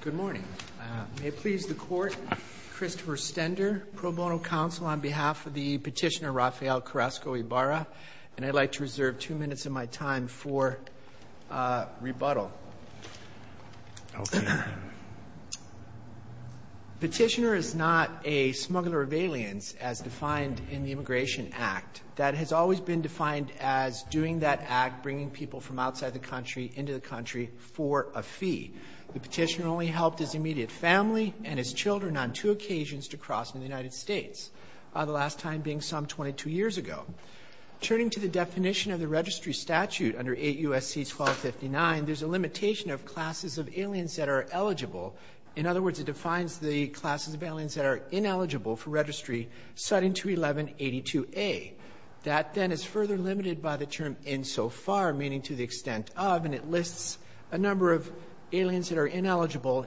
Good morning. May it please the court, Christopher Stender, pro bono counsel on behalf of the petitioner Rafael Carrasco-Ibarra, and I'd like to reserve two minutes of my time for rebuttal. Petitioner is not a smuggler of aliens as defined in the Immigration Act. That has always been defined as doing that act, bringing people from outside the country into the country for a fee. The petitioner only helped his immediate family and his children on two occasions to cross in the United States, the last time being some 22 years ago. Turning to the definition of the registry statute under 8 U.S.C. 1259, there's a limitation of classes of aliens that are eligible. In other words, it defines the classes of aliens that are ineligible for registry, citing 211-82a. That, then, is further limited by the term insofar, meaning to the extent of, and it lists a number of aliens that are ineligible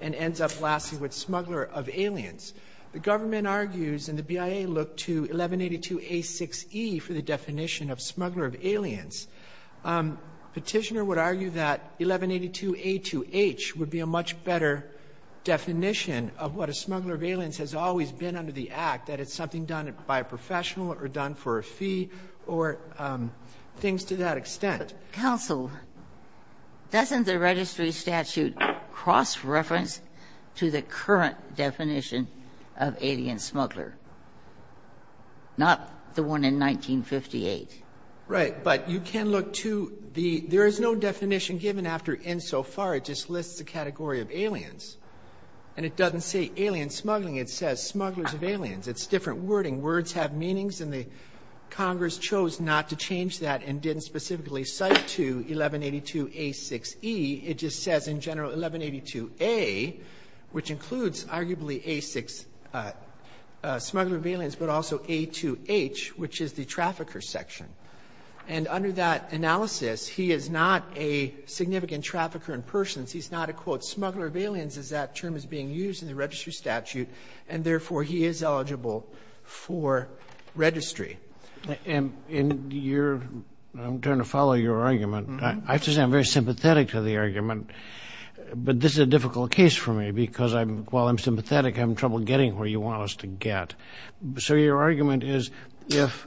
and ends up lasting with smuggler of aliens. The government argues, and the BIA looked to 1182a.6e for the definition of smuggler of aliens. Petitioner would argue that 1182a.2h would be a much better definition of what a smuggler of aliens has always been under the Act, that it's something done by a professional or done for a fee or things to that extent. Ginsburg-Cousin, doesn't the registry statute cross-reference to the current definition of alien smuggler, not the one in 1958? Right. But you can look to the --"there is no definition given after insofar. It just lists a category of aliens. And it doesn't say alien smuggling. It says smugglers of aliens. It's different wording. Words have meanings, and the Congress chose not to change that and didn't specifically cite to 1182a.6e. It just says in general 1182a, which includes arguably a smuggler of aliens, but also a.2h, which is the trafficker section. And under that analysis, he is not a significant trafficker in persons. He's not a, quote, smuggler of aliens, as that term is being used in the registry statute, and therefore he is eligible for registry. And I'm trying to follow your argument. I have to say I'm very sympathetic to the argument, but this is a difficult case for me because while I'm sympathetic, I'm having trouble getting where you want us to get. So your argument is if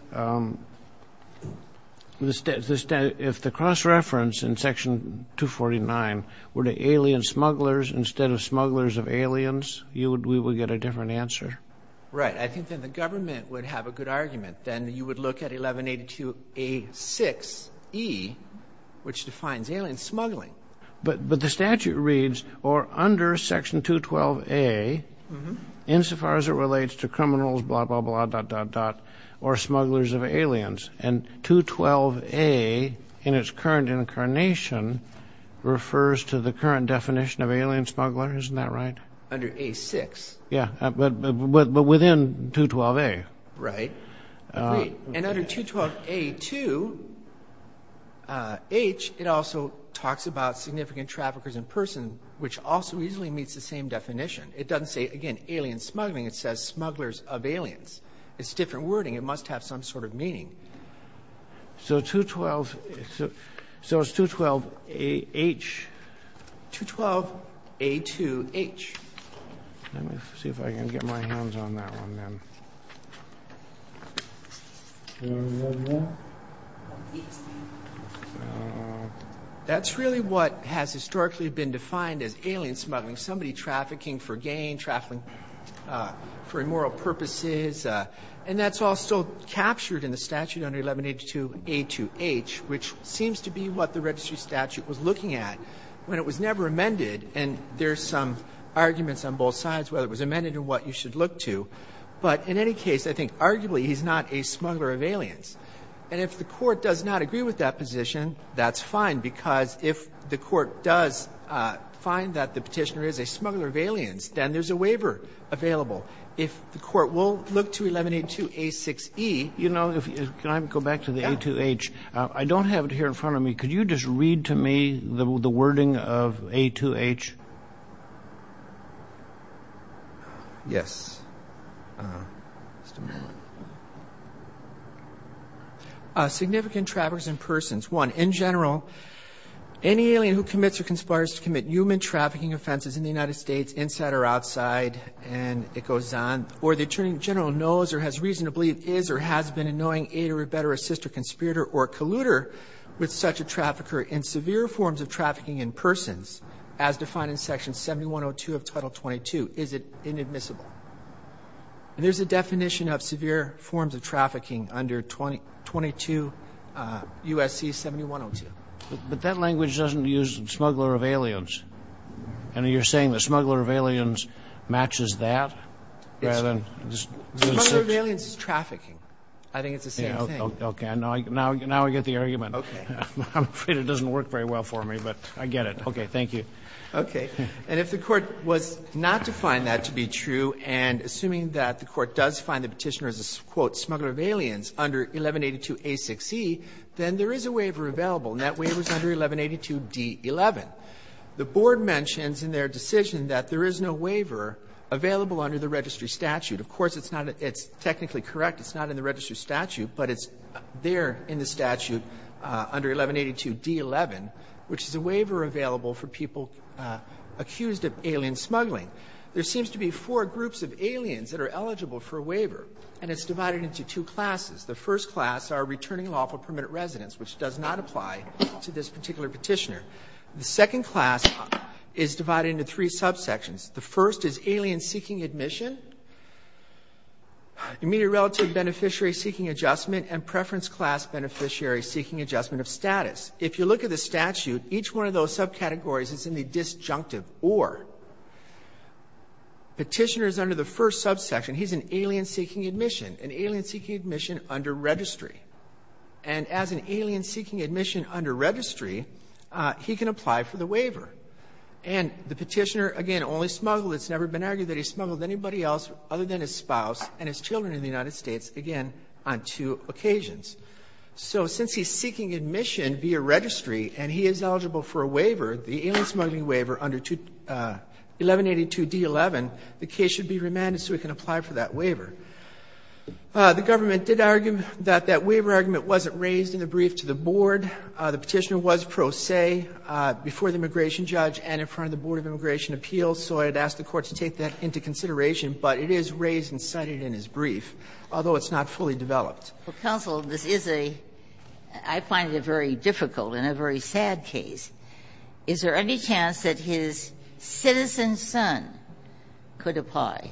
the cross-reference in Section 249 were to alien smugglers instead of smugglers of aliens, we would get a different answer? Right. I think that the government would have a good argument. Then you would look at 1182a.6e, which defines alien smuggling. But the statute reads, or under Section 212a, insofar as it relates to criminals, blah, blah, blah, dot, dot, dot, or smugglers of aliens, and 212a in its current incarnation refers to the current definition of alien smuggler. Isn't that right? Under a.6. Yeah, but within 212a. Right. And under 212a.2.h, it also talks about significant traffickers in person, which also easily meets the same definition. It doesn't say, again, alien smuggling. It says smugglers of aliens. It's a different wording. It must have some sort of meaning. So 212a.2.h. 212a.2.h. Let me see if I can get my hands on that one, then. That's really what has historically been defined as alien smuggling. Somebody trafficking for gain, trafficking for immoral purposes. And that's also captured in the statute under 1182a.2.h, which seems to be what the registry statute was looking at when it was never amended. And there's some arguments on both sides, whether it was amended or what you should look to. But in any case, I think arguably he's not a smuggler of aliens. And if the Court does not agree with that position, that's fine, because if the Court does find that the Petitioner is a smuggler of aliens, then there's a waiver available. If the Court will look to 1182a.6.e. You know, if you can go back to the a.2.h. I don't have it here in front of me. Could you just read to me the wording of a.2.h? Yes. Significant traffickers in persons. One, in general, any alien who commits or conspires to commit human trafficking offenses in the United States, inside or outside, and it goes on, or the Attorney General knows or has reason to believe is or has been a knowing aid or a better sister conspirator or colluder with such a trafficker in severe forms of trafficking in persons, as defined in Section 7102 of Title 22, is it inadmissible? And there's a definition of severe forms of trafficking under 22 U.S.C. 7102. But that language doesn't use smuggler of aliens. And you're saying the smuggler of aliens matches that? Smuggler of aliens is trafficking. I think it's the same thing. Okay. Now I get the argument. Okay. I'm afraid it doesn't work very well for me, but I get it. Okay. Thank you. Okay. And if the Court was not to find that to be true, and assuming that the Court does find the Petitioner is a, quote, smuggler of aliens under 1182a6e, then there is a waiver available, and that waiver is under 1182d11. The Board mentions in their decision that there is no waiver available under the Of course, it's not a — it's technically correct, it's not in the registry statute, but it's there in the statute under 1182d11, which is a waiver available for people accused of alien smuggling. There seems to be four groups of aliens that are eligible for a waiver, and it's divided into two classes. The first class are returning lawful permanent residents, which does not apply to this particular Petitioner. The second class is divided into three subsections. The first is alien-seeking admission. You meet a relative beneficiary-seeking adjustment and preference-class beneficiary-seeking adjustment of status. If you look at the statute, each one of those subcategories is in the disjunctive or. Petitioner is under the first subsection. He's an alien-seeking admission, an alien-seeking admission under registry. And as an alien-seeking admission under registry, he can apply for the waiver. And the Petitioner, again, only smuggled. It's never been argued that he smuggled anybody else other than his spouse and his children in the United States, again, on two occasions. So since he's seeking admission via registry and he is eligible for a waiver, the alien-smuggling waiver under 1182d11, the case should be remanded so he can apply for that waiver. The government did argue that that waiver argument wasn't raised in the brief to the Board. The Petitioner was pro se before the immigration judge and in front of the Board of Immigration Appeals. So I'd ask the Court to take that into consideration. But it is raised and cited in his brief, although it's not fully developed. Ginsburg-Mills, this is a – I find it a very difficult and a very sad case. Is there any chance that his citizen son could apply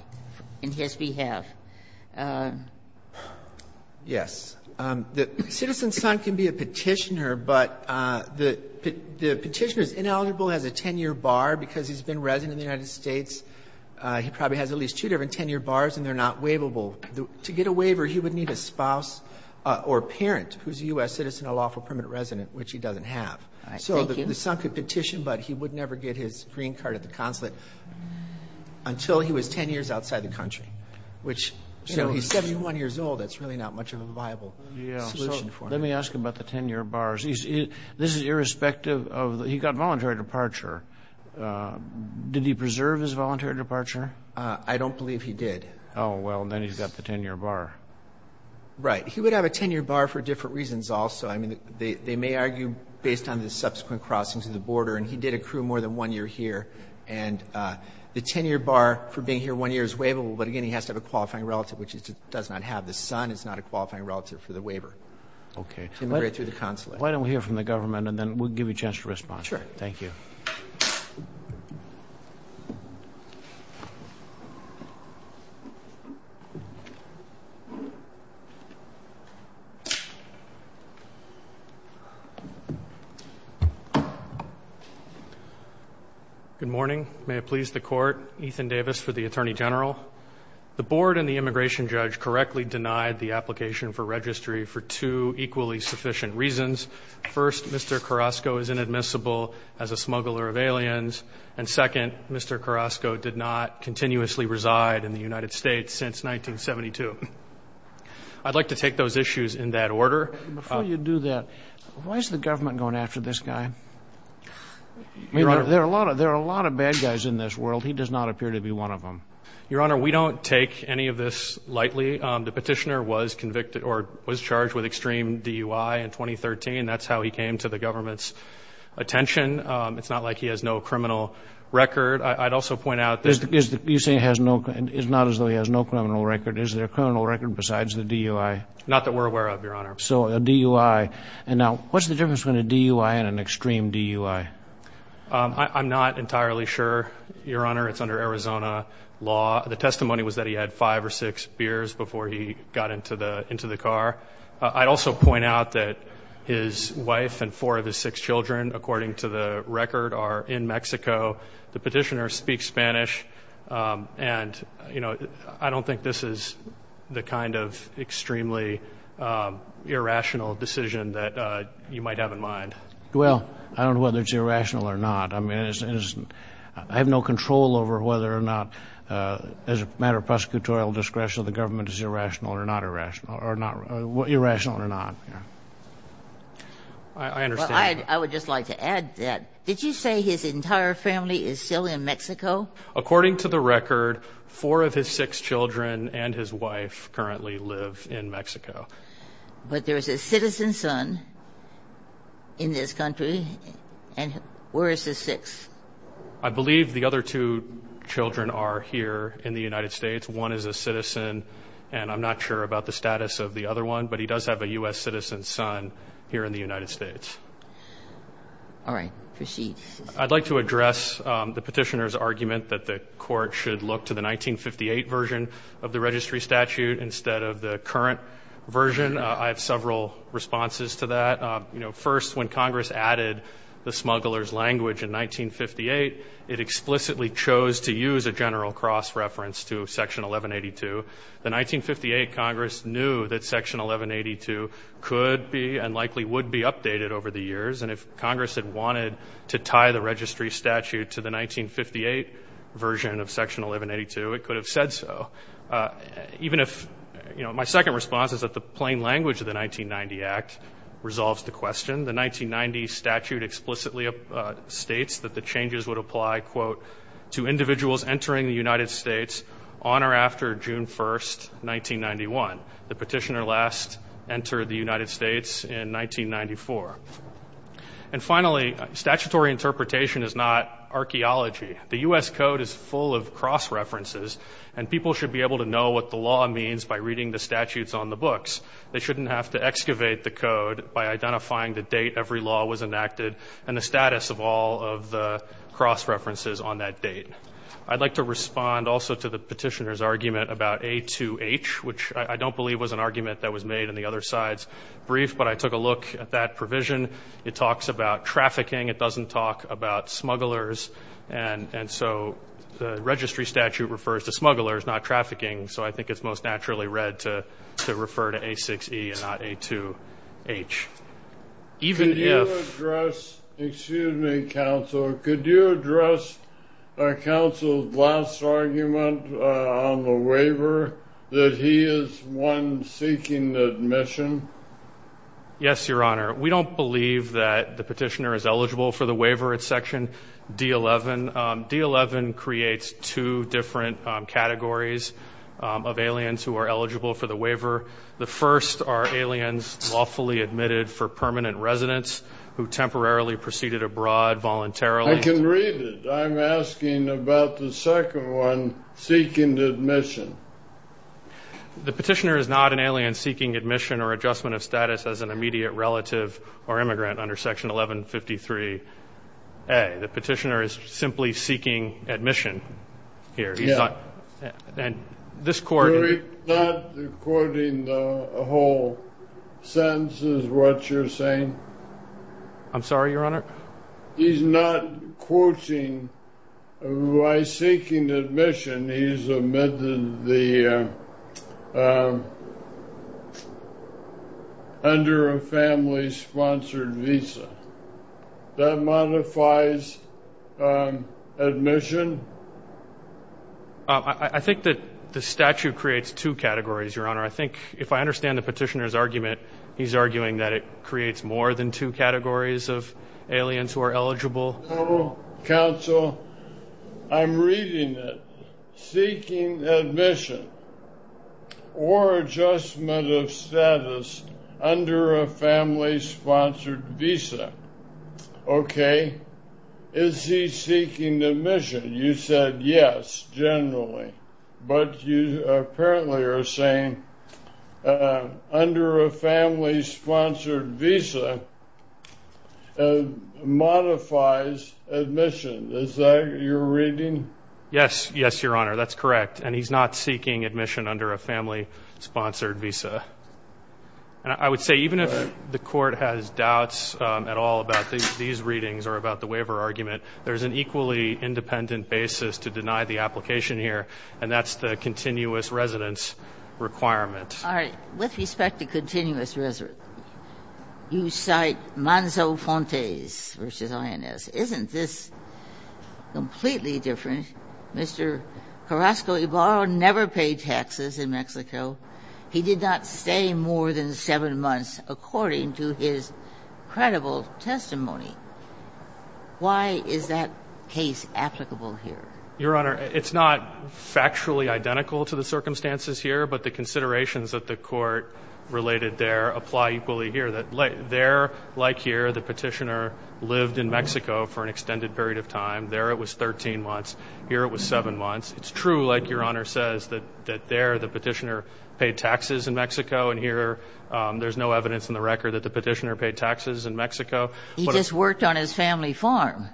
in his behalf? Yes. The citizen son can be a Petitioner, but the Petitioner is ineligible, has a 10-year bar because he's been resident in the United States. He probably has at least two different 10-year bars and they're not waivable. To get a waiver, he would need a spouse or parent who's a U.S. citizen, a lawful permanent resident, which he doesn't have. So the son could petition, but he would never get his green card at the consulate until he was 10 years outside the country, which, you know, he's 71 years old. That's really not much of a viable solution for him. Let me ask about the 10-year bars. This is irrespective of the – he got voluntary departure. Did he preserve his voluntary departure? I don't believe he did. Oh, well, then he's got the 10-year bar. Right. He would have a 10-year bar for different reasons also. I mean, they may argue based on the subsequent crossing to the border, and he did accrue more than one year here. And the 10-year bar for being here one year is waivable, but again, he has to have a qualifying relative, which he does not have. The son is not a qualifying relative for the waiver to immigrate through the consulate. Why don't we hear from the government, and then we'll give you a chance to respond. Sure. Thank you. Good morning. May it please the Court. Ethan Davis for the Attorney General. The board and the immigration judge correctly denied the application for registry for two equally sufficient reasons. First, Mr. Carrasco is inadmissible as a smuggler of aliens. And second, Mr. Carrasco did not continuously reside in the United States since 1972. I'd like to take those issues in that order. Before you do that, why is the government going after this guy? Your Honor. I mean, there are a lot of bad guys in this world. He does not appear to be one of them. Your Honor, we don't take any of this lightly. The petitioner was convicted or was charged with extreme DUI in 2013. That's how he came to the government's attention. It's not like he has no criminal record. I'd also point out this. You're saying it's not as though he has no criminal record. Is there a criminal record besides the DUI? Not that we're aware of, Your Honor. So a DUI. And now, what's the difference between a DUI and an extreme DUI? I'm not entirely sure, Your Honor. It's under Arizona law. The testimony was that he had five or six beers before he got into the car. I'd also point out that his wife and four of his six children, according to the record, are in Mexico. The petitioner speaks Spanish, and I don't think this is the kind of extremely irrational decision that you might have in mind. Well, I don't know whether it's irrational or not. I mean, I have no control over whether or not, as a matter of prosecutorial discretion, the government is irrational or not irrational, or irrational or not. I understand. I would just like to add that. Did you say his entire family is still in Mexico? According to the record, four of his six children and his wife currently live in Mexico. But there is a citizen's son in this country, and where is his sixth? I believe the other two children are here in the United States. One is a citizen, and I'm not sure about the status of the other one, but he does have a U.S. citizen's son here in the United States. All right. Proceed. I'd like to address the petitioner's argument that the Court should look to the I have several responses to that. You know, first, when Congress added the smuggler's language in 1958, it explicitly chose to use a general cross-reference to Section 1182. In 1958, Congress knew that Section 1182 could be and likely would be updated over the years, and if Congress had wanted to tie the registry statute to the 1958 version of Section 1182, it could have said so. Even if, you know, my second response is that the plain language of the 1990 Act resolves the question. The 1990 statute explicitly states that the changes would apply, quote, to individuals entering the United States on or after June 1st, 1991. The petitioner last entered the United States in 1994. And finally, statutory interpretation is not archaeology. The U.S. code is full of cross-references, and people should be able to know what the law means by reading the statutes on the books. They shouldn't have to excavate the code by identifying the date every law was enacted and the status of all of the cross-references on that date. I'd like to respond also to the petitioner's argument about A2H, which I don't believe was an argument that was made in the other side's brief, but I took a look at that provision. It talks about trafficking. It doesn't talk about smugglers. And so the registry statute refers to smugglers, not trafficking, so I think it's most naturally read to refer to A6E and not A2H. Even if... Excuse me, counsel. Could you address counsel's last argument on the waiver, that he is one seeking admission? Yes, Your Honor. We don't believe that the petitioner is eligible for the waiver at section D11. D11 creates two different categories of aliens who are eligible for the waiver. The first are aliens lawfully admitted for permanent residence who temporarily proceeded abroad voluntarily. I can read it. I'm asking about the second one, seeking admission. The petitioner is not an alien seeking admission or adjustment of status as an immediate relative or immigrant under section 1153A. The petitioner is simply seeking admission here. He's not... And this court... You're not quoting the whole sentence is what you're saying? I'm sorry, Your Honor? He's not quoting by seeking admission. He's admitted under a family-sponsored visa. That modifies admission? I think that the statute creates two categories, Your Honor. I think if I understand the petitioner's argument, he's arguing that it creates more than two categories of aliens who are eligible. No, counsel. I'm reading it. Seeking admission or adjustment of status under a family-sponsored visa. Okay. Is he seeking admission? You said yes, generally. But you apparently are saying under a family-sponsored visa modifies admission. Is that your reading? Yes, yes, Your Honor. That's correct. And he's not seeking admission under a family-sponsored visa. And I would say even if the court has doubts at all about these readings or about the waiver argument, there's an equally independent basis to deny the application here, and that's the continuous residence requirement. All right. With respect to continuous residence, you cite Manzo Fontes versus INS. Isn't this completely different? Mr. Carrasco-Ibarra never paid taxes in Mexico. He did not stay more than seven months, according to his credible testimony. Why is that case applicable here? Your Honor, it's not factually identical to the circumstances here, but the considerations that the court related there apply equally here, that there, like here, the petitioner lived in Mexico for an extended period of time. There, it was 13 months. Here, it was seven months. It's true, like Your Honor says, that there, the petitioner paid taxes in Mexico. And here, there's no evidence in the record that the petitioner paid taxes in Mexico. He just worked on his family farm.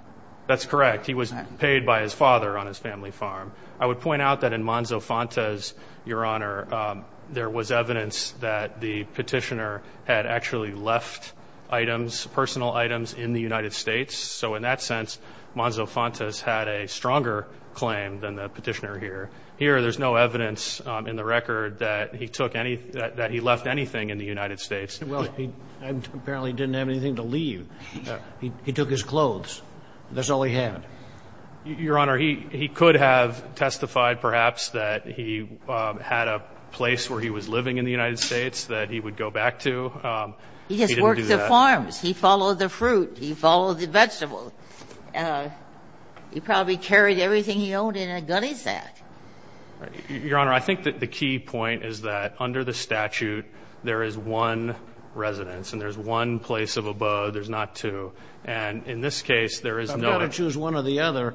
That's correct. He was paid by his father on his family farm. I would point out that in Manzo Fontes, Your Honor, there was evidence that the petitioner had actually left items, personal items, in the United States. So in that sense, Manzo Fontes had a stronger claim than the petitioner here. Here, there's no evidence in the record that he took any – that he left anything in the United States. Well, he apparently didn't have anything to leave. He took his clothes. That's all he had. Your Honor, he could have testified, perhaps, that he had a place where he was living in the United States that he would go back to. He didn't do that. He just worked the farms. He followed the fruit. He followed the vegetables. He probably carried everything he owned in a gunny sack. Your Honor, I think that the key point is that under the statute, there is one residence and there's one place of abode. There's not two. And in this case, there is no – I've got to choose one or the other.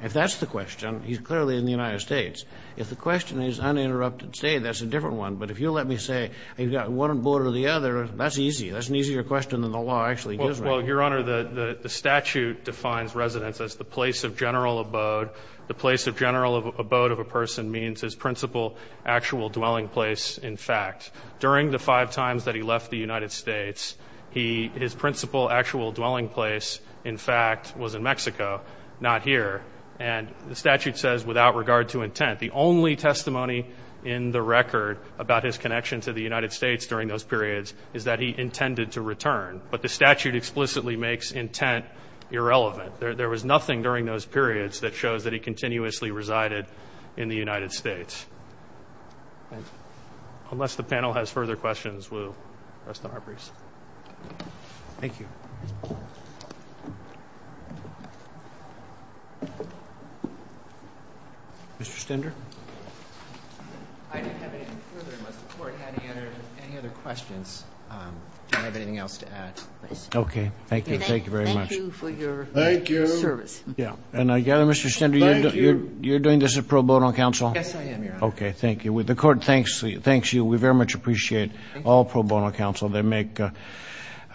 If that's the question, he's clearly in the United States. If the question is uninterrupted stay, that's a different one. But if you let me say, you've got one abode or the other, that's easy. That's an easier question than the law actually gives me. Well, Your Honor, the statute defines residence as the place of general abode. The place of general abode of a person means his principal actual dwelling place, in fact. During the five times that he left the United States, he – his principal actual dwelling place, in fact, was in Mexico, not here. And the statute says without regard to intent. The only testimony in the record about his connection to the United States during those periods is that he intended to return. But the statute explicitly makes intent irrelevant. There was nothing during those periods that shows that he continuously resided in the United States. Unless the panel has further questions, we'll rest on our briefs. Thank you. Mr. Stender? I don't have anything further unless the court had any other questions. I don't have anything else to add. Okay. Thank you. Thank you very much. Thank you for your service. Thank you. And I gather, Mr. Stender, you're doing this at pro bono counsel? Yes, I am, Your Honor. Okay. Thank you. The court thanks you. We very much appreciate all pro bono counsel. I'm a lawyer.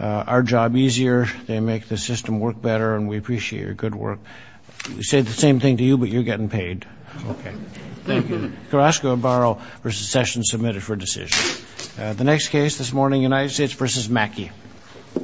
I'm a lawyer. I'm a lawyer. I'm a lawyer. I'm a lawyer. I'm a lawyer. I'm a lawyer. Thank you for leaving. The court thanks you. The same thing to you, but you're getting paid. Okay. Thank you. Gerasiko, Barro vs. Sessions, submitted for admission. The next case this morning, United States vs. Mackey.